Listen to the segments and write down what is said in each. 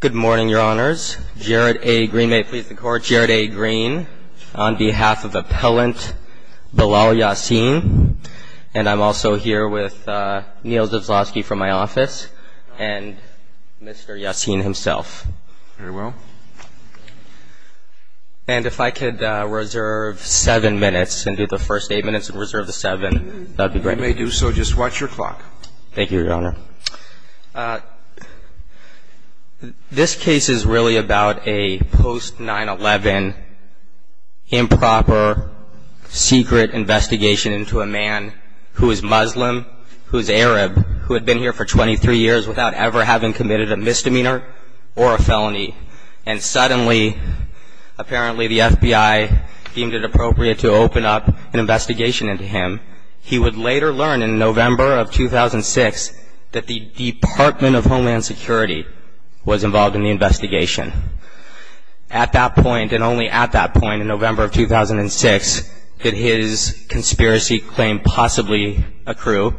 Good morning, Your Honors. Jared A. Green, may it please the Court. Jared A. Green, on behalf of Appellant Bilal Yassin. And I'm also here with Neal Zaslavsky from my office and Mr. Yassin himself. Very well. And if I could reserve seven minutes and do the first eight minutes and reserve the seven, that would be great. You may do so. Just watch your clock. Thank you, Your Honor. This case is really about a post 9-11 improper secret investigation into a man who is Muslim, who is Arab, who had been here for 23 years without ever having committed a misdemeanor or a felony. And suddenly, apparently the FBI deemed it appropriate to open up an investigation into him. He would later learn in November of 2006 that the Department of Homeland Security was involved in the investigation. At that point, and only at that point in November of 2006, did his conspiracy claim possibly accrue.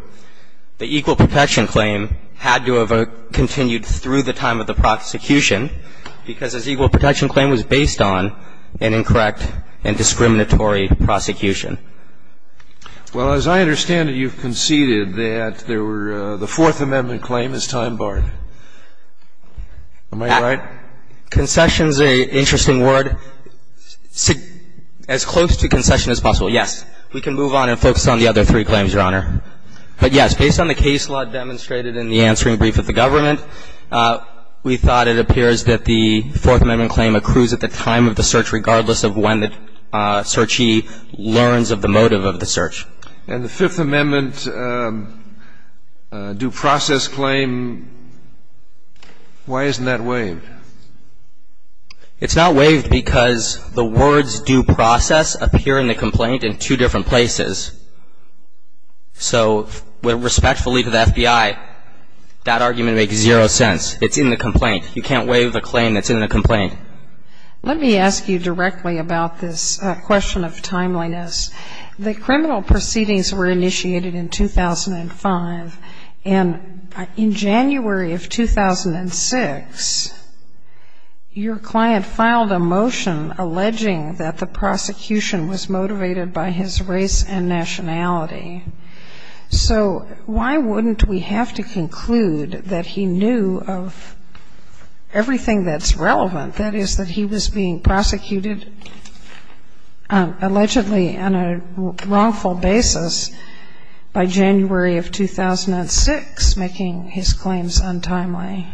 The equal protection claim had to have continued through the time of the prosecution because his equal protection claim was based on an incorrect and discriminatory prosecution. Well, as I understand it, you've conceded that the Fourth Amendment claim is time barred. Am I right? Concession is an interesting word. As close to concession as possible, yes. We can move on and focus on the other three claims, Your Honor. But yes, based on the case law demonstrated in the answering brief of the government, we thought it appears that the Fourth Amendment claim accrues at the time of the search, regardless of when the searchee learns of the motive of the search. And the Fifth Amendment due process claim, why isn't that waived? It's not waived because the words due process appear in the complaint in two different places. So respectfully to the FBI, that argument makes zero sense. It's in the complaint. You can't waive a claim that's in a complaint. Let me ask you directly about this question of timeliness. The criminal proceedings were initiated in 2005. And in January of 2006, your client filed a motion alleging that the prosecution was motivated by his race and nationality. So why wouldn't we have to conclude that he knew of everything that's relevant? That is, that he was being prosecuted allegedly on a wrongful basis by January of 2006, making his claims untimely.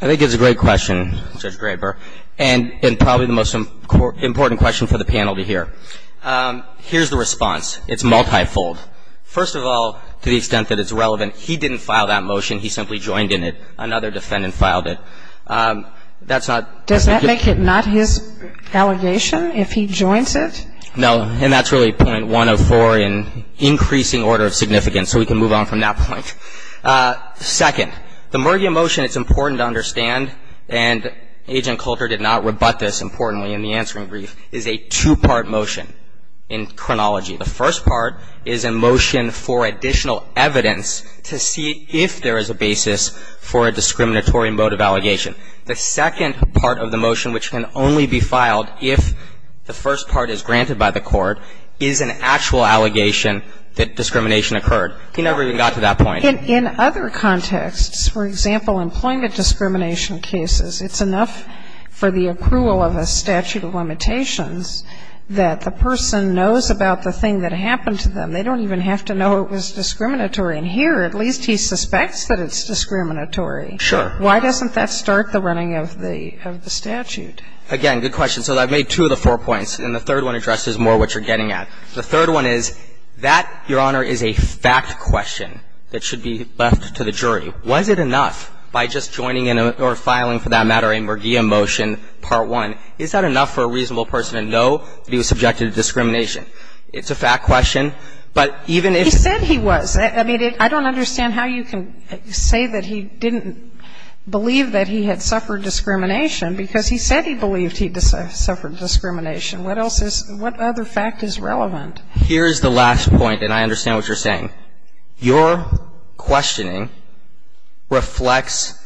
I think it's a great question, Judge Graber, and probably the most important question for the panel to hear. Here's the response. It's multifold. First of all, to the extent that it's relevant, he didn't file that motion. He simply joined in it. Another defendant filed it. That's not Does that make it not his allegation if he joins it? No, and that's really point 104 in increasing order of significance. So we can move on from that point. Second, the Murgia motion, it's important to understand, and Agent Coulter did not rebut this importantly in the answering brief, is a two-part motion in chronology. The first part is a motion for additional evidence to see if there is a basis for a discriminatory motive allegation. The second part of the motion, which can only be filed if the first part is granted by the court, is an actual allegation that discrimination occurred. He never even got to that point. In other contexts, for example, employment discrimination cases, it's enough for the approval of a statute of limitations that the person knows about the thing that happened to them. They don't even have to know it was discriminatory. And here, at least he suspects that it's discriminatory. Sure. Why doesn't that start the running of the statute? Again, good question. So I've made two of the four points, and the third one addresses more what you're getting at. The third one is, that, Your Honor, is a fact question that should be left to the jury. Was it enough by just joining in or filing, for that matter, a Murgia motion, part one, is that enough for a reasonable person to know that he was subjected to discrimination? It's a fact question, but even if he was. He said he was. I don't understand how you can say that he didn't believe that he had suffered discrimination, because he said he believed he suffered discrimination. What else is, what other fact is relevant? Here's the last point, and I understand what you're saying. Your questioning reflects,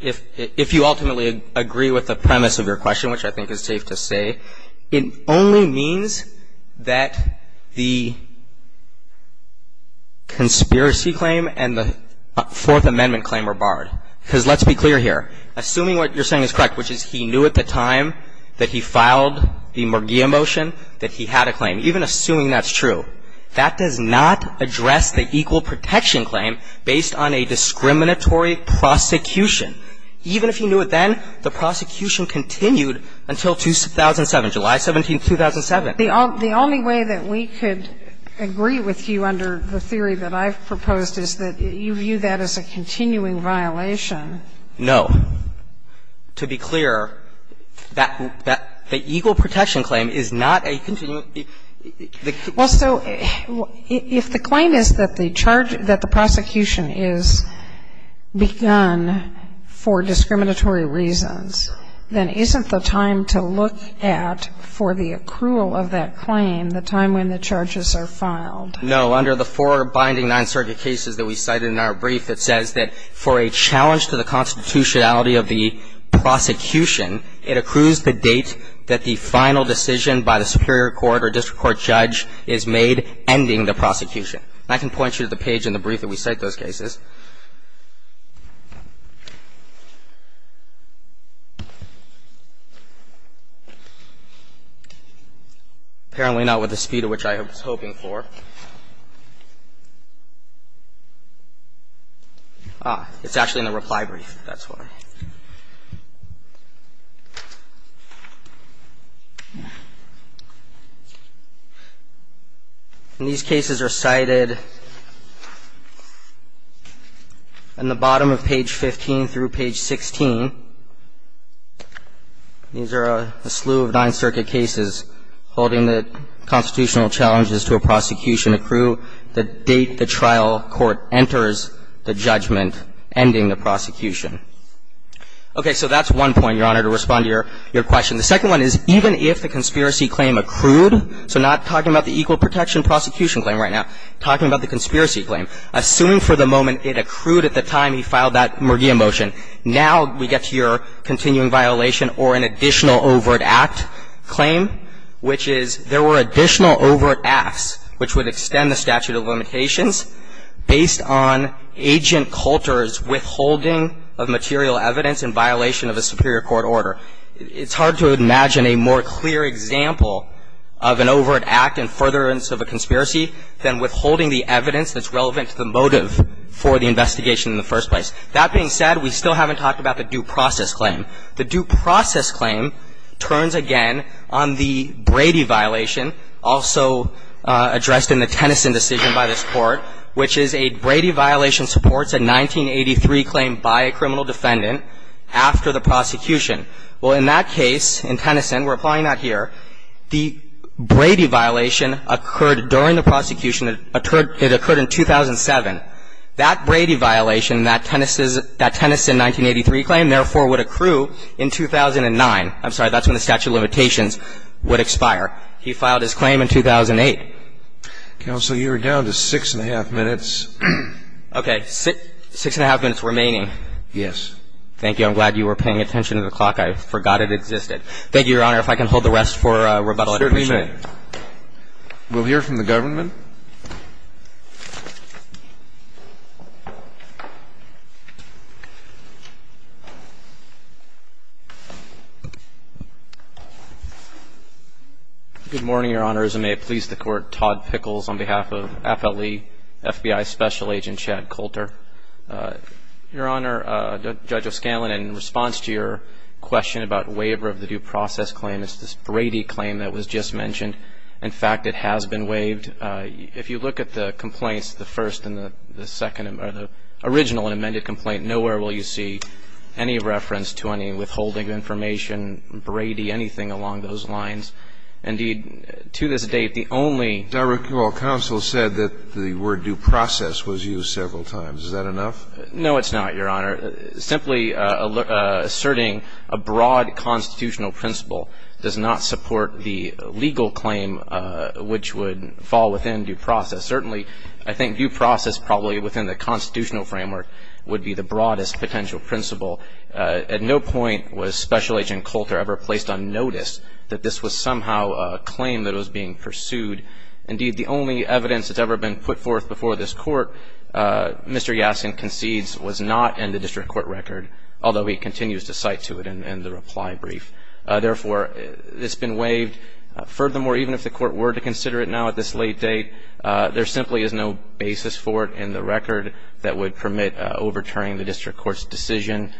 if you ultimately agree with the premise of your question, which I think and the Fourth Amendment claim were barred. Because let's be clear here. Assuming what you're saying is correct, which is he knew at the time that he filed the Murgia motion that he had a claim, even assuming that's true, that does not address the equal protection claim based on a discriminatory prosecution. Even if he knew it then, the prosecution continued until 2007, July 17, 2007. The only way that we could agree with you under the theory that I've proposed is that you view that as a continuing violation. No. To be clear, the equal protection claim is not a continuing. Well, so if the claim is that the prosecution is begun for discriminatory reasons, then isn't the time to look at, for the accrual of that claim, the time when the charges are filed? No. Under the four binding Ninth Circuit cases that we cited in our brief, it says that for a challenge to the constitutionality of the prosecution, it accrues the date that the final decision by the superior court or district court judge is made ending the prosecution. And I can point you to the page in the brief that we cite those cases. Apparently not with the speed at which I was hoping for. Ah, it's actually in the reply brief. That's why. In the bottom of page 15 through page 16, these are a slew of Ninth Circuit cases holding that constitutional challenges to a prosecution accrue the date the trial court enters the judgment ending the prosecution. OK, so that's one point, Your Honor, to respond to your question. The second one is, even if the conspiracy claim accrued, so not talking about the equal protection prosecution claim right now, talking about the conspiracy claim, assuming for the moment it accrued at the time he filed that Murdia motion, now we get to your continuing violation or an additional overt act claim, which is there were additional overt acts which would extend the statute of limitations based on agent Coulter's withholding of material evidence in violation of a superior court order. It's hard to imagine a more clear example of an overt act in furtherance of a conspiracy than withholding the evidence that's relevant to the motive for the investigation in the first place. That being said, we still haven't talked about the due process claim. The due process claim turns again on the Brady violation, also addressed in the Tennyson decision by this court, which is a Brady violation supports a 1983 claim by a criminal defendant after the prosecution. Well, in that case, in Tennyson, we're applying that here, the Brady violation occurred during the prosecution, it occurred in 2007. That Brady violation, that Tennyson 1983 claim, therefore would accrue in 2009. I'm sorry, that's when the statute of limitations would expire. He filed his claim in 2008. Counsel, you are down to six and a half minutes. Okay. Six and a half minutes remaining. Yes. Thank you. I'm glad you were paying attention to the clock. I forgot it existed. Thank you, Your Honor. If I can hold the rest for rebuttal, I'd appreciate it. Mr. Dreeben, we'll hear from the government. Mr. Dreeben. Good morning, Your Honor, as I may please the court, Todd Pickles on behalf of FLE FBI Special Agent Chad Coulter. Your Honor, Judge O'Scanlan, in response to your question about waiver of the due process claim, it's this Brady claim that was just mentioned. In fact, it has been waived. If you look at the complaints, the first and the second or the original and amended complaint, nowhere will you see any reference to any withholding of information, Brady, anything along those lines. Indeed, to this date, the only ---- Your Honor, counsel said that the word due process was used several times. Is that enough? No, it's not, Your Honor. Simply asserting a broad constitutional principle does not support the legal claim which would fall within due process. Certainly, I think due process probably within the constitutional framework would be the broadest potential principle. At no point was Special Agent Coulter ever placed on notice that this was somehow a claim that was being pursued. Indeed, the only evidence that's ever been put forth before this court, Mr. Yaskin concedes, was not in the district court record, although he continues to cite to it in the reply brief. Therefore, it's been waived. Furthermore, even if the court were to consider it now at this late date, there simply is no basis for it in the record that would permit overturning the district court's decision.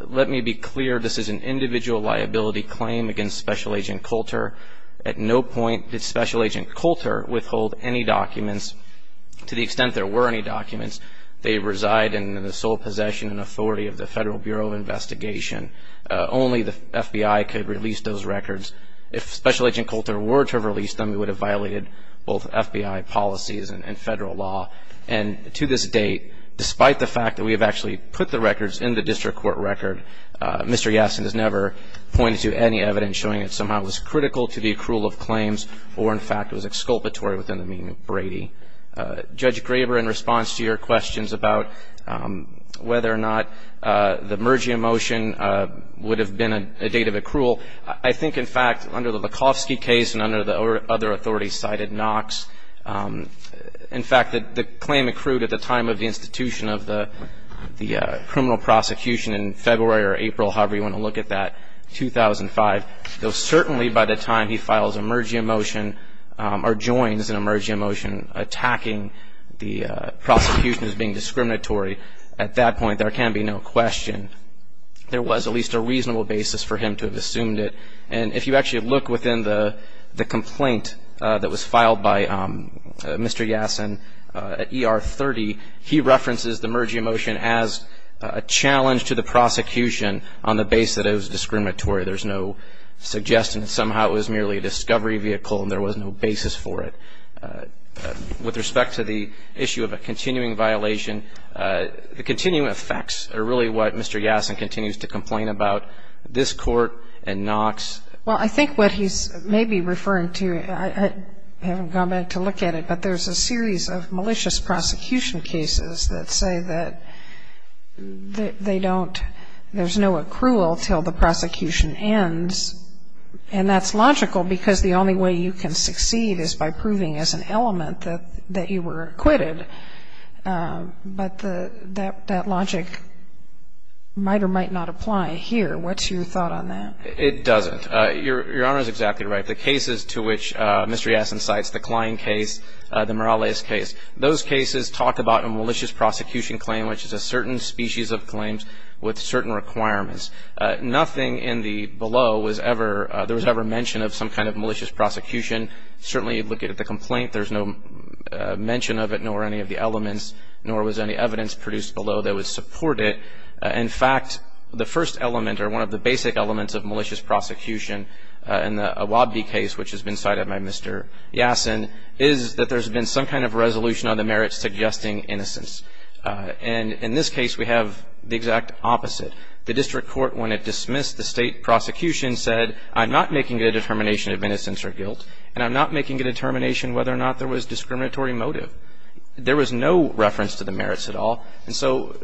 Let me be clear. This is an individual liability claim against Special Agent Coulter. At no point did Special Agent Coulter withhold any documents. To the extent there were any documents, they reside in the sole possession and authority of the Federal Bureau of Investigation. Only the FBI could release those records. If Special Agent Coulter were to have released them, it would have violated both FBI policies and federal law. And to this date, despite the fact that we have actually put the records in the district court record, Mr. Yaskin has never pointed to any evidence showing it somehow was critical to the accrual of claims or, in fact, was exculpatory within the meaning of Brady. Judge Graber, in response to your questions about whether or not the merger motion would have been a date of accrual, I think, in fact, under the Lakofsky case and under the other authorities cited, Knox, in fact, the claim accrued at the time of the institution of the criminal prosecution in February or April, however you want to look at that, 2005, though certainly by the time he files a merger motion or joins a merger motion attacking the prosecution as being discriminatory, at that point, there can be no question there was at least a reasonable basis for him to have assumed it. And if you actually look within the complaint that was filed by Mr. Yaskin at ER 30, he references the merger motion as a challenge to the prosecution on the basis that it was discriminatory. There's no suggestion. Somehow, it was merely a discovery vehicle, and there was no basis for it. With respect to the issue of a continuing violation, the continuing effects are really what Mr. Yaskin continues to complain about, this court and Knox. Well, I think what he's maybe referring to, I haven't gone back to look at it, but there's a series of malicious prosecution cases that say that there's no accrual till the prosecution ends. And that's logical, because the only way you can succeed is by proving as an element that you were acquitted. But that logic might or might not apply here. What's your thought on that? It doesn't. Your Honor is exactly right. The cases to which Mr. Yaskin cites, the Klein case, the Morales case, those cases talk about a malicious prosecution claim, which is a certain species of claims with certain requirements. Nothing in the below was ever mentioned of some kind of malicious prosecution. Certainly, you look at the complaint, there's no mention of it, nor any of the elements, nor was any evidence produced below that would support it. In fact, the first element, or one of the basic elements of malicious prosecution in the Awabdi case, which has been cited by Mr. Yaskin, is that there's been some kind of resolution on the merits suggesting innocence. And in this case, we have the exact opposite. The district court, when it dismissed the state prosecution, said, I'm not making a determination of innocence or guilt, and I'm not making a determination whether or not there was discriminatory motive. There was no reference to the merits at all. And so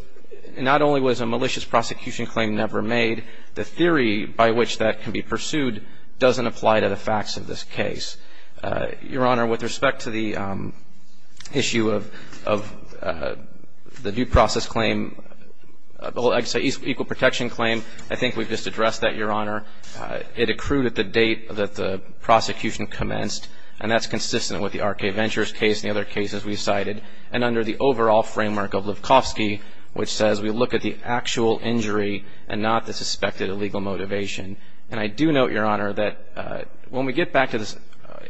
not only was a malicious prosecution claim never made, the theory by which that can be pursued doesn't apply to the facts of this case. Your Honor, with respect to the issue of the due process claim, equal protection claim, I think we've just addressed that, Your Honor. It accrued at the date that the prosecution commenced, and that's consistent with the R.K. Ventures case and the other cases we cited. And under the overall framework of Levkovsky, which says we look at the actual injury and not the suspected illegal motivation. And I do note, Your Honor, that when we get back to this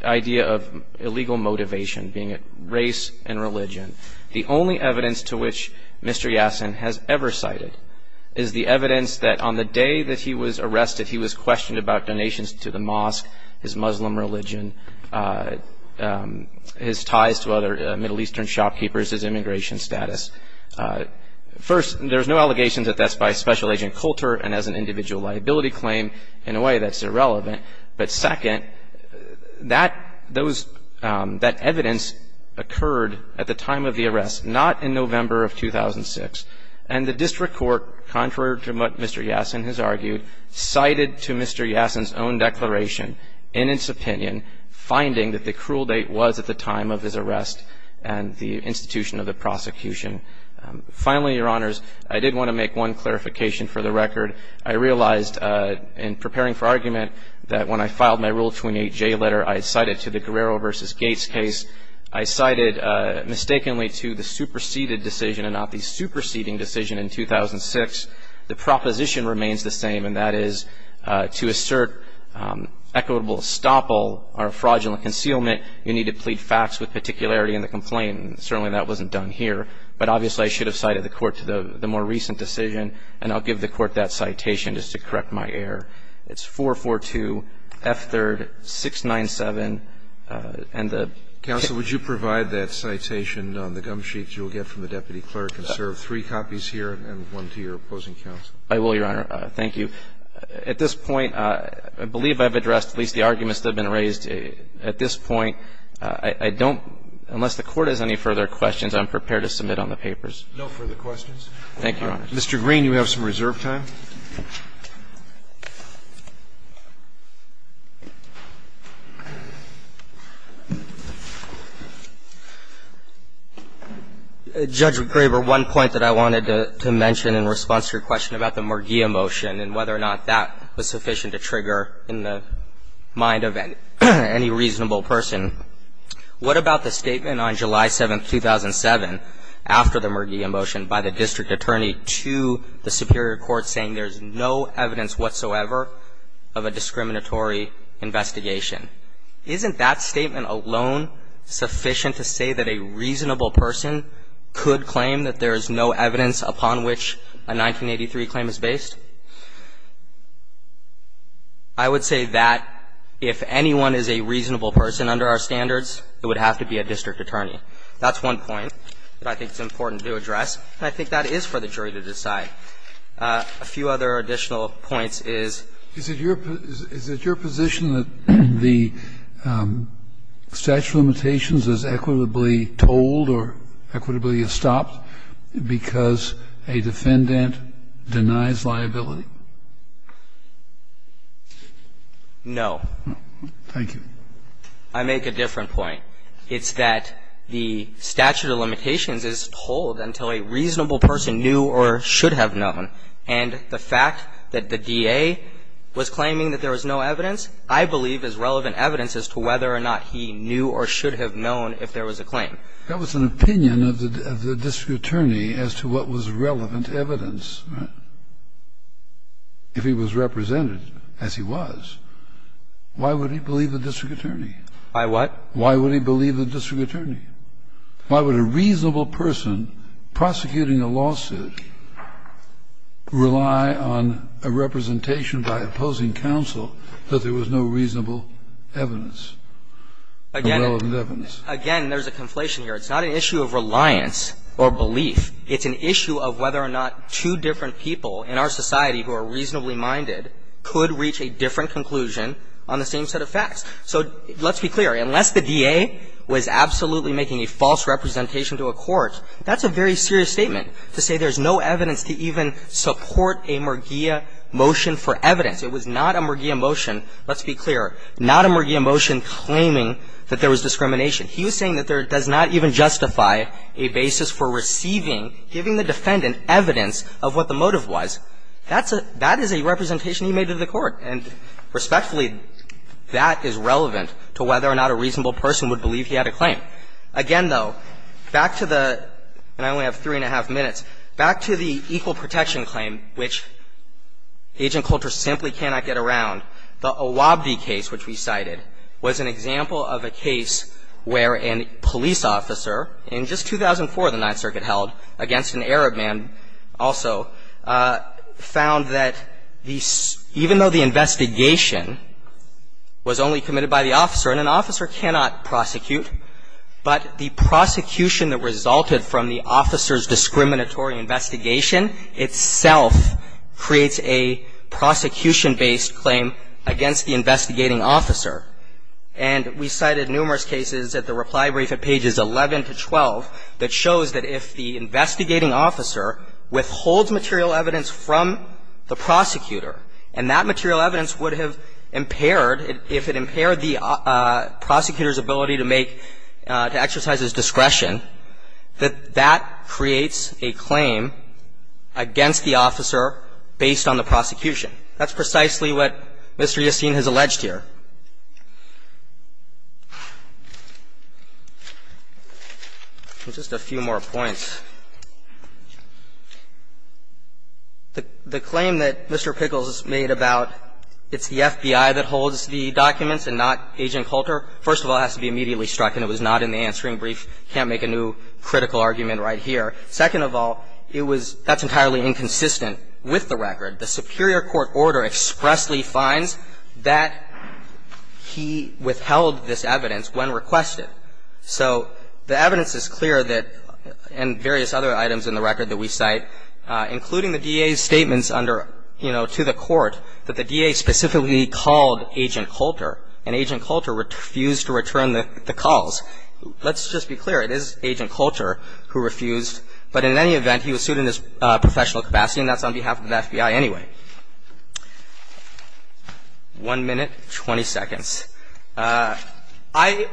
idea of illegal motivation, being it race and religion, the only evidence to which Mr. Yaskin has ever cited is the evidence that on the day that he was arrested, he was questioned about donations to the mosque, his Muslim religion, his ties to other Middle Eastern shopkeepers, his immigration status. First, there's no allegation that that's by Special Agent Coulter and as an individual liability claim. In a way, that's irrelevant. But second, that evidence occurred at the time of the arrest, not in November of 2006. And the district court, contrary to what Mr. Yaskin has argued, cited to Mr. Yaskin's own declaration, in its opinion, finding that the cruel date was at the time of his arrest and the institution of the prosecution. Finally, Your Honors, I did want to make one clarification for the record. I realized in preparing for argument that when I filed my Rule 28J letter, I cited to the Guerrero versus Gates case. I cited mistakenly to the superseded decision and not the superseding decision in 2006. The proposition remains the same and that is to assert equitable estoppel or fraudulent concealment, you need to plead facts with particularity in the complaint. Certainly, that wasn't done here. But obviously, I should have cited the court to the more recent decision. And I'll give the court that citation just to correct my error. It's 442 F3rd 697 and the- Counsel, would you provide that citation on the gum sheets you'll get from the deputy clerk and serve three copies here and one to your opposing counsel? I will, Your Honor. Thank you. At this point, I believe I've addressed at least the arguments that have been raised. At this point, I don't, unless the court has any further questions, I'm prepared to submit on the papers. No further questions. Thank you, Your Honor. Mr. Green, you have some reserve time. Thank you. Judge Graber, one point that I wanted to mention in response to your question about the Merguia motion and whether or not that was sufficient to trigger in the mind of any reasonable person, what about the statement on July 7, 2007, after the Merguia motion by the district attorney to the superior court saying there's no evidence whatsoever of a discriminatory investigation? Isn't that statement alone sufficient to say that a reasonable person could claim that there is no evidence upon which a 1983 claim is based? I would say that if anyone is a reasonable person under our standards, it would have to be a district attorney. That's one point that I think is important to address. And I think that is for the jury to decide. A few other additional points is your position that the statute of limitations is equitably told or equitably stopped because a defendant denies liability? No. Thank you. It's that the statute of limitations is told until a reasonable person knew or should have known. And the fact that the DA was claiming that there was no evidence, I believe is relevant evidence as to whether or not he knew or should have known if there was a claim. That was an opinion of the district attorney as to what was relevant evidence. If he was represented as he was, why would he believe the district attorney? Why what? Why would he believe the district attorney? Why would a reasonable person prosecuting a lawsuit rely on a representation by opposing counsel that there was no reasonable evidence? Again, there's a conflation here. It's not an issue of reliance or belief. It's an issue of whether or not two different people in our society who are reasonably minded could reach a different conclusion on the same set of facts. So let's be clear. Unless the DA was absolutely making a false representation to a court, that's a very serious statement to say there's no evidence to even support a Murgia motion for evidence. It was not a Murgia motion, let's be clear, not a Murgia motion claiming that there was discrimination. He was saying that there does not even justify a basis for receiving, giving the defendant evidence of what the motive was. That's a – that is a representation he made to the court. And respectfully, that is relevant to whether or not a reasonable person would believe he had a claim. Again, though, back to the – and I only have three and a half minutes – back to the equal protection claim, which Agent Coulter simply cannot get around, the Owabde case, which we cited, was an example of a case where a police officer in just 2004, the Ninth Circuit held, against an Arab man also, found that the – even though the investigation was only committed by the officer, and an officer cannot prosecute, but the prosecution that resulted from the officer's discriminatory investigation itself creates a prosecution-based claim against the investigating officer. And we cited numerous cases at the reply brief at pages 11 to 12 that shows that if the investigating officer withholds material evidence from the prosecutor and that material evidence would have impaired – if it impaired the prosecutor's ability to make – to exercise his discretion, that that creates a claim against the officer based on the prosecution. That's precisely what Mr. Yastin has alleged here. Just a few more points. The claim that Mr. Pickles made about it's the FBI that holds the documents and not Agent Coulter, first of all, has to be immediately struck, and it was not in the answering brief. You can't make a new critical argument right here. Second of all, it was – that's entirely inconsistent with the record. The superior court order expressly finds that he withheld this evidence when requested. So the evidence is clear that – and various other items in the record that we cite, including the DA's statements under – you know, to the court, that the DA specifically called Agent Coulter, and Agent Coulter refused to return the calls. Let's just be clear, it is Agent Coulter who refused, but in any event, he was sued in his professional capacity, and that's on behalf of the FBI anyway. One minute, 20 seconds. I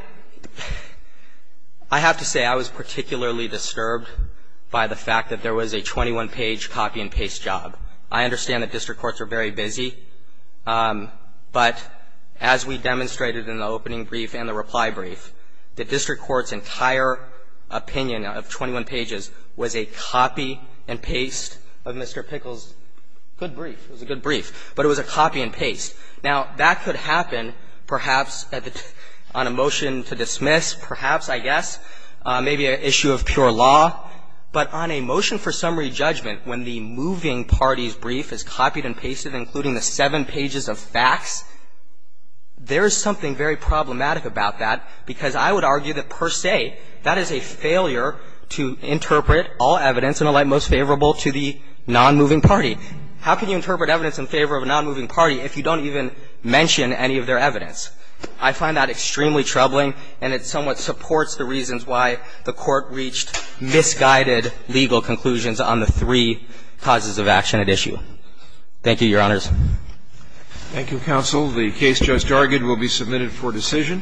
have to say, I was particularly disturbed by the fact that there was a 21-page copy-and-paste job. I understand that district courts are very busy, but as we demonstrated in the opening brief and the reply brief, the district court's entire opinion of 21 pages was a copy-and-paste of Mr. Pickles' good brief. It was a good brief, but it was a copy-and-paste. Now, that could happen, perhaps, on a motion to dismiss, perhaps, I guess, maybe an issue of pure law. But on a motion for summary judgment, when the moving party's brief is copied and pasted, including the seven pages of facts, there is something very problematic about that, because I would argue that, per se, that is a failure to interpret all evidence in a light most favorable to the nonmoving party. How can you interpret evidence in favor of a nonmoving party if you don't even mention any of their evidence? I find that extremely troubling, and it somewhat supports the reasons why the court reached misguided legal conclusions on the three causes of action at issue. Thank you, Your Honors. Thank you, Counsel. The case just argued will be submitted for decision.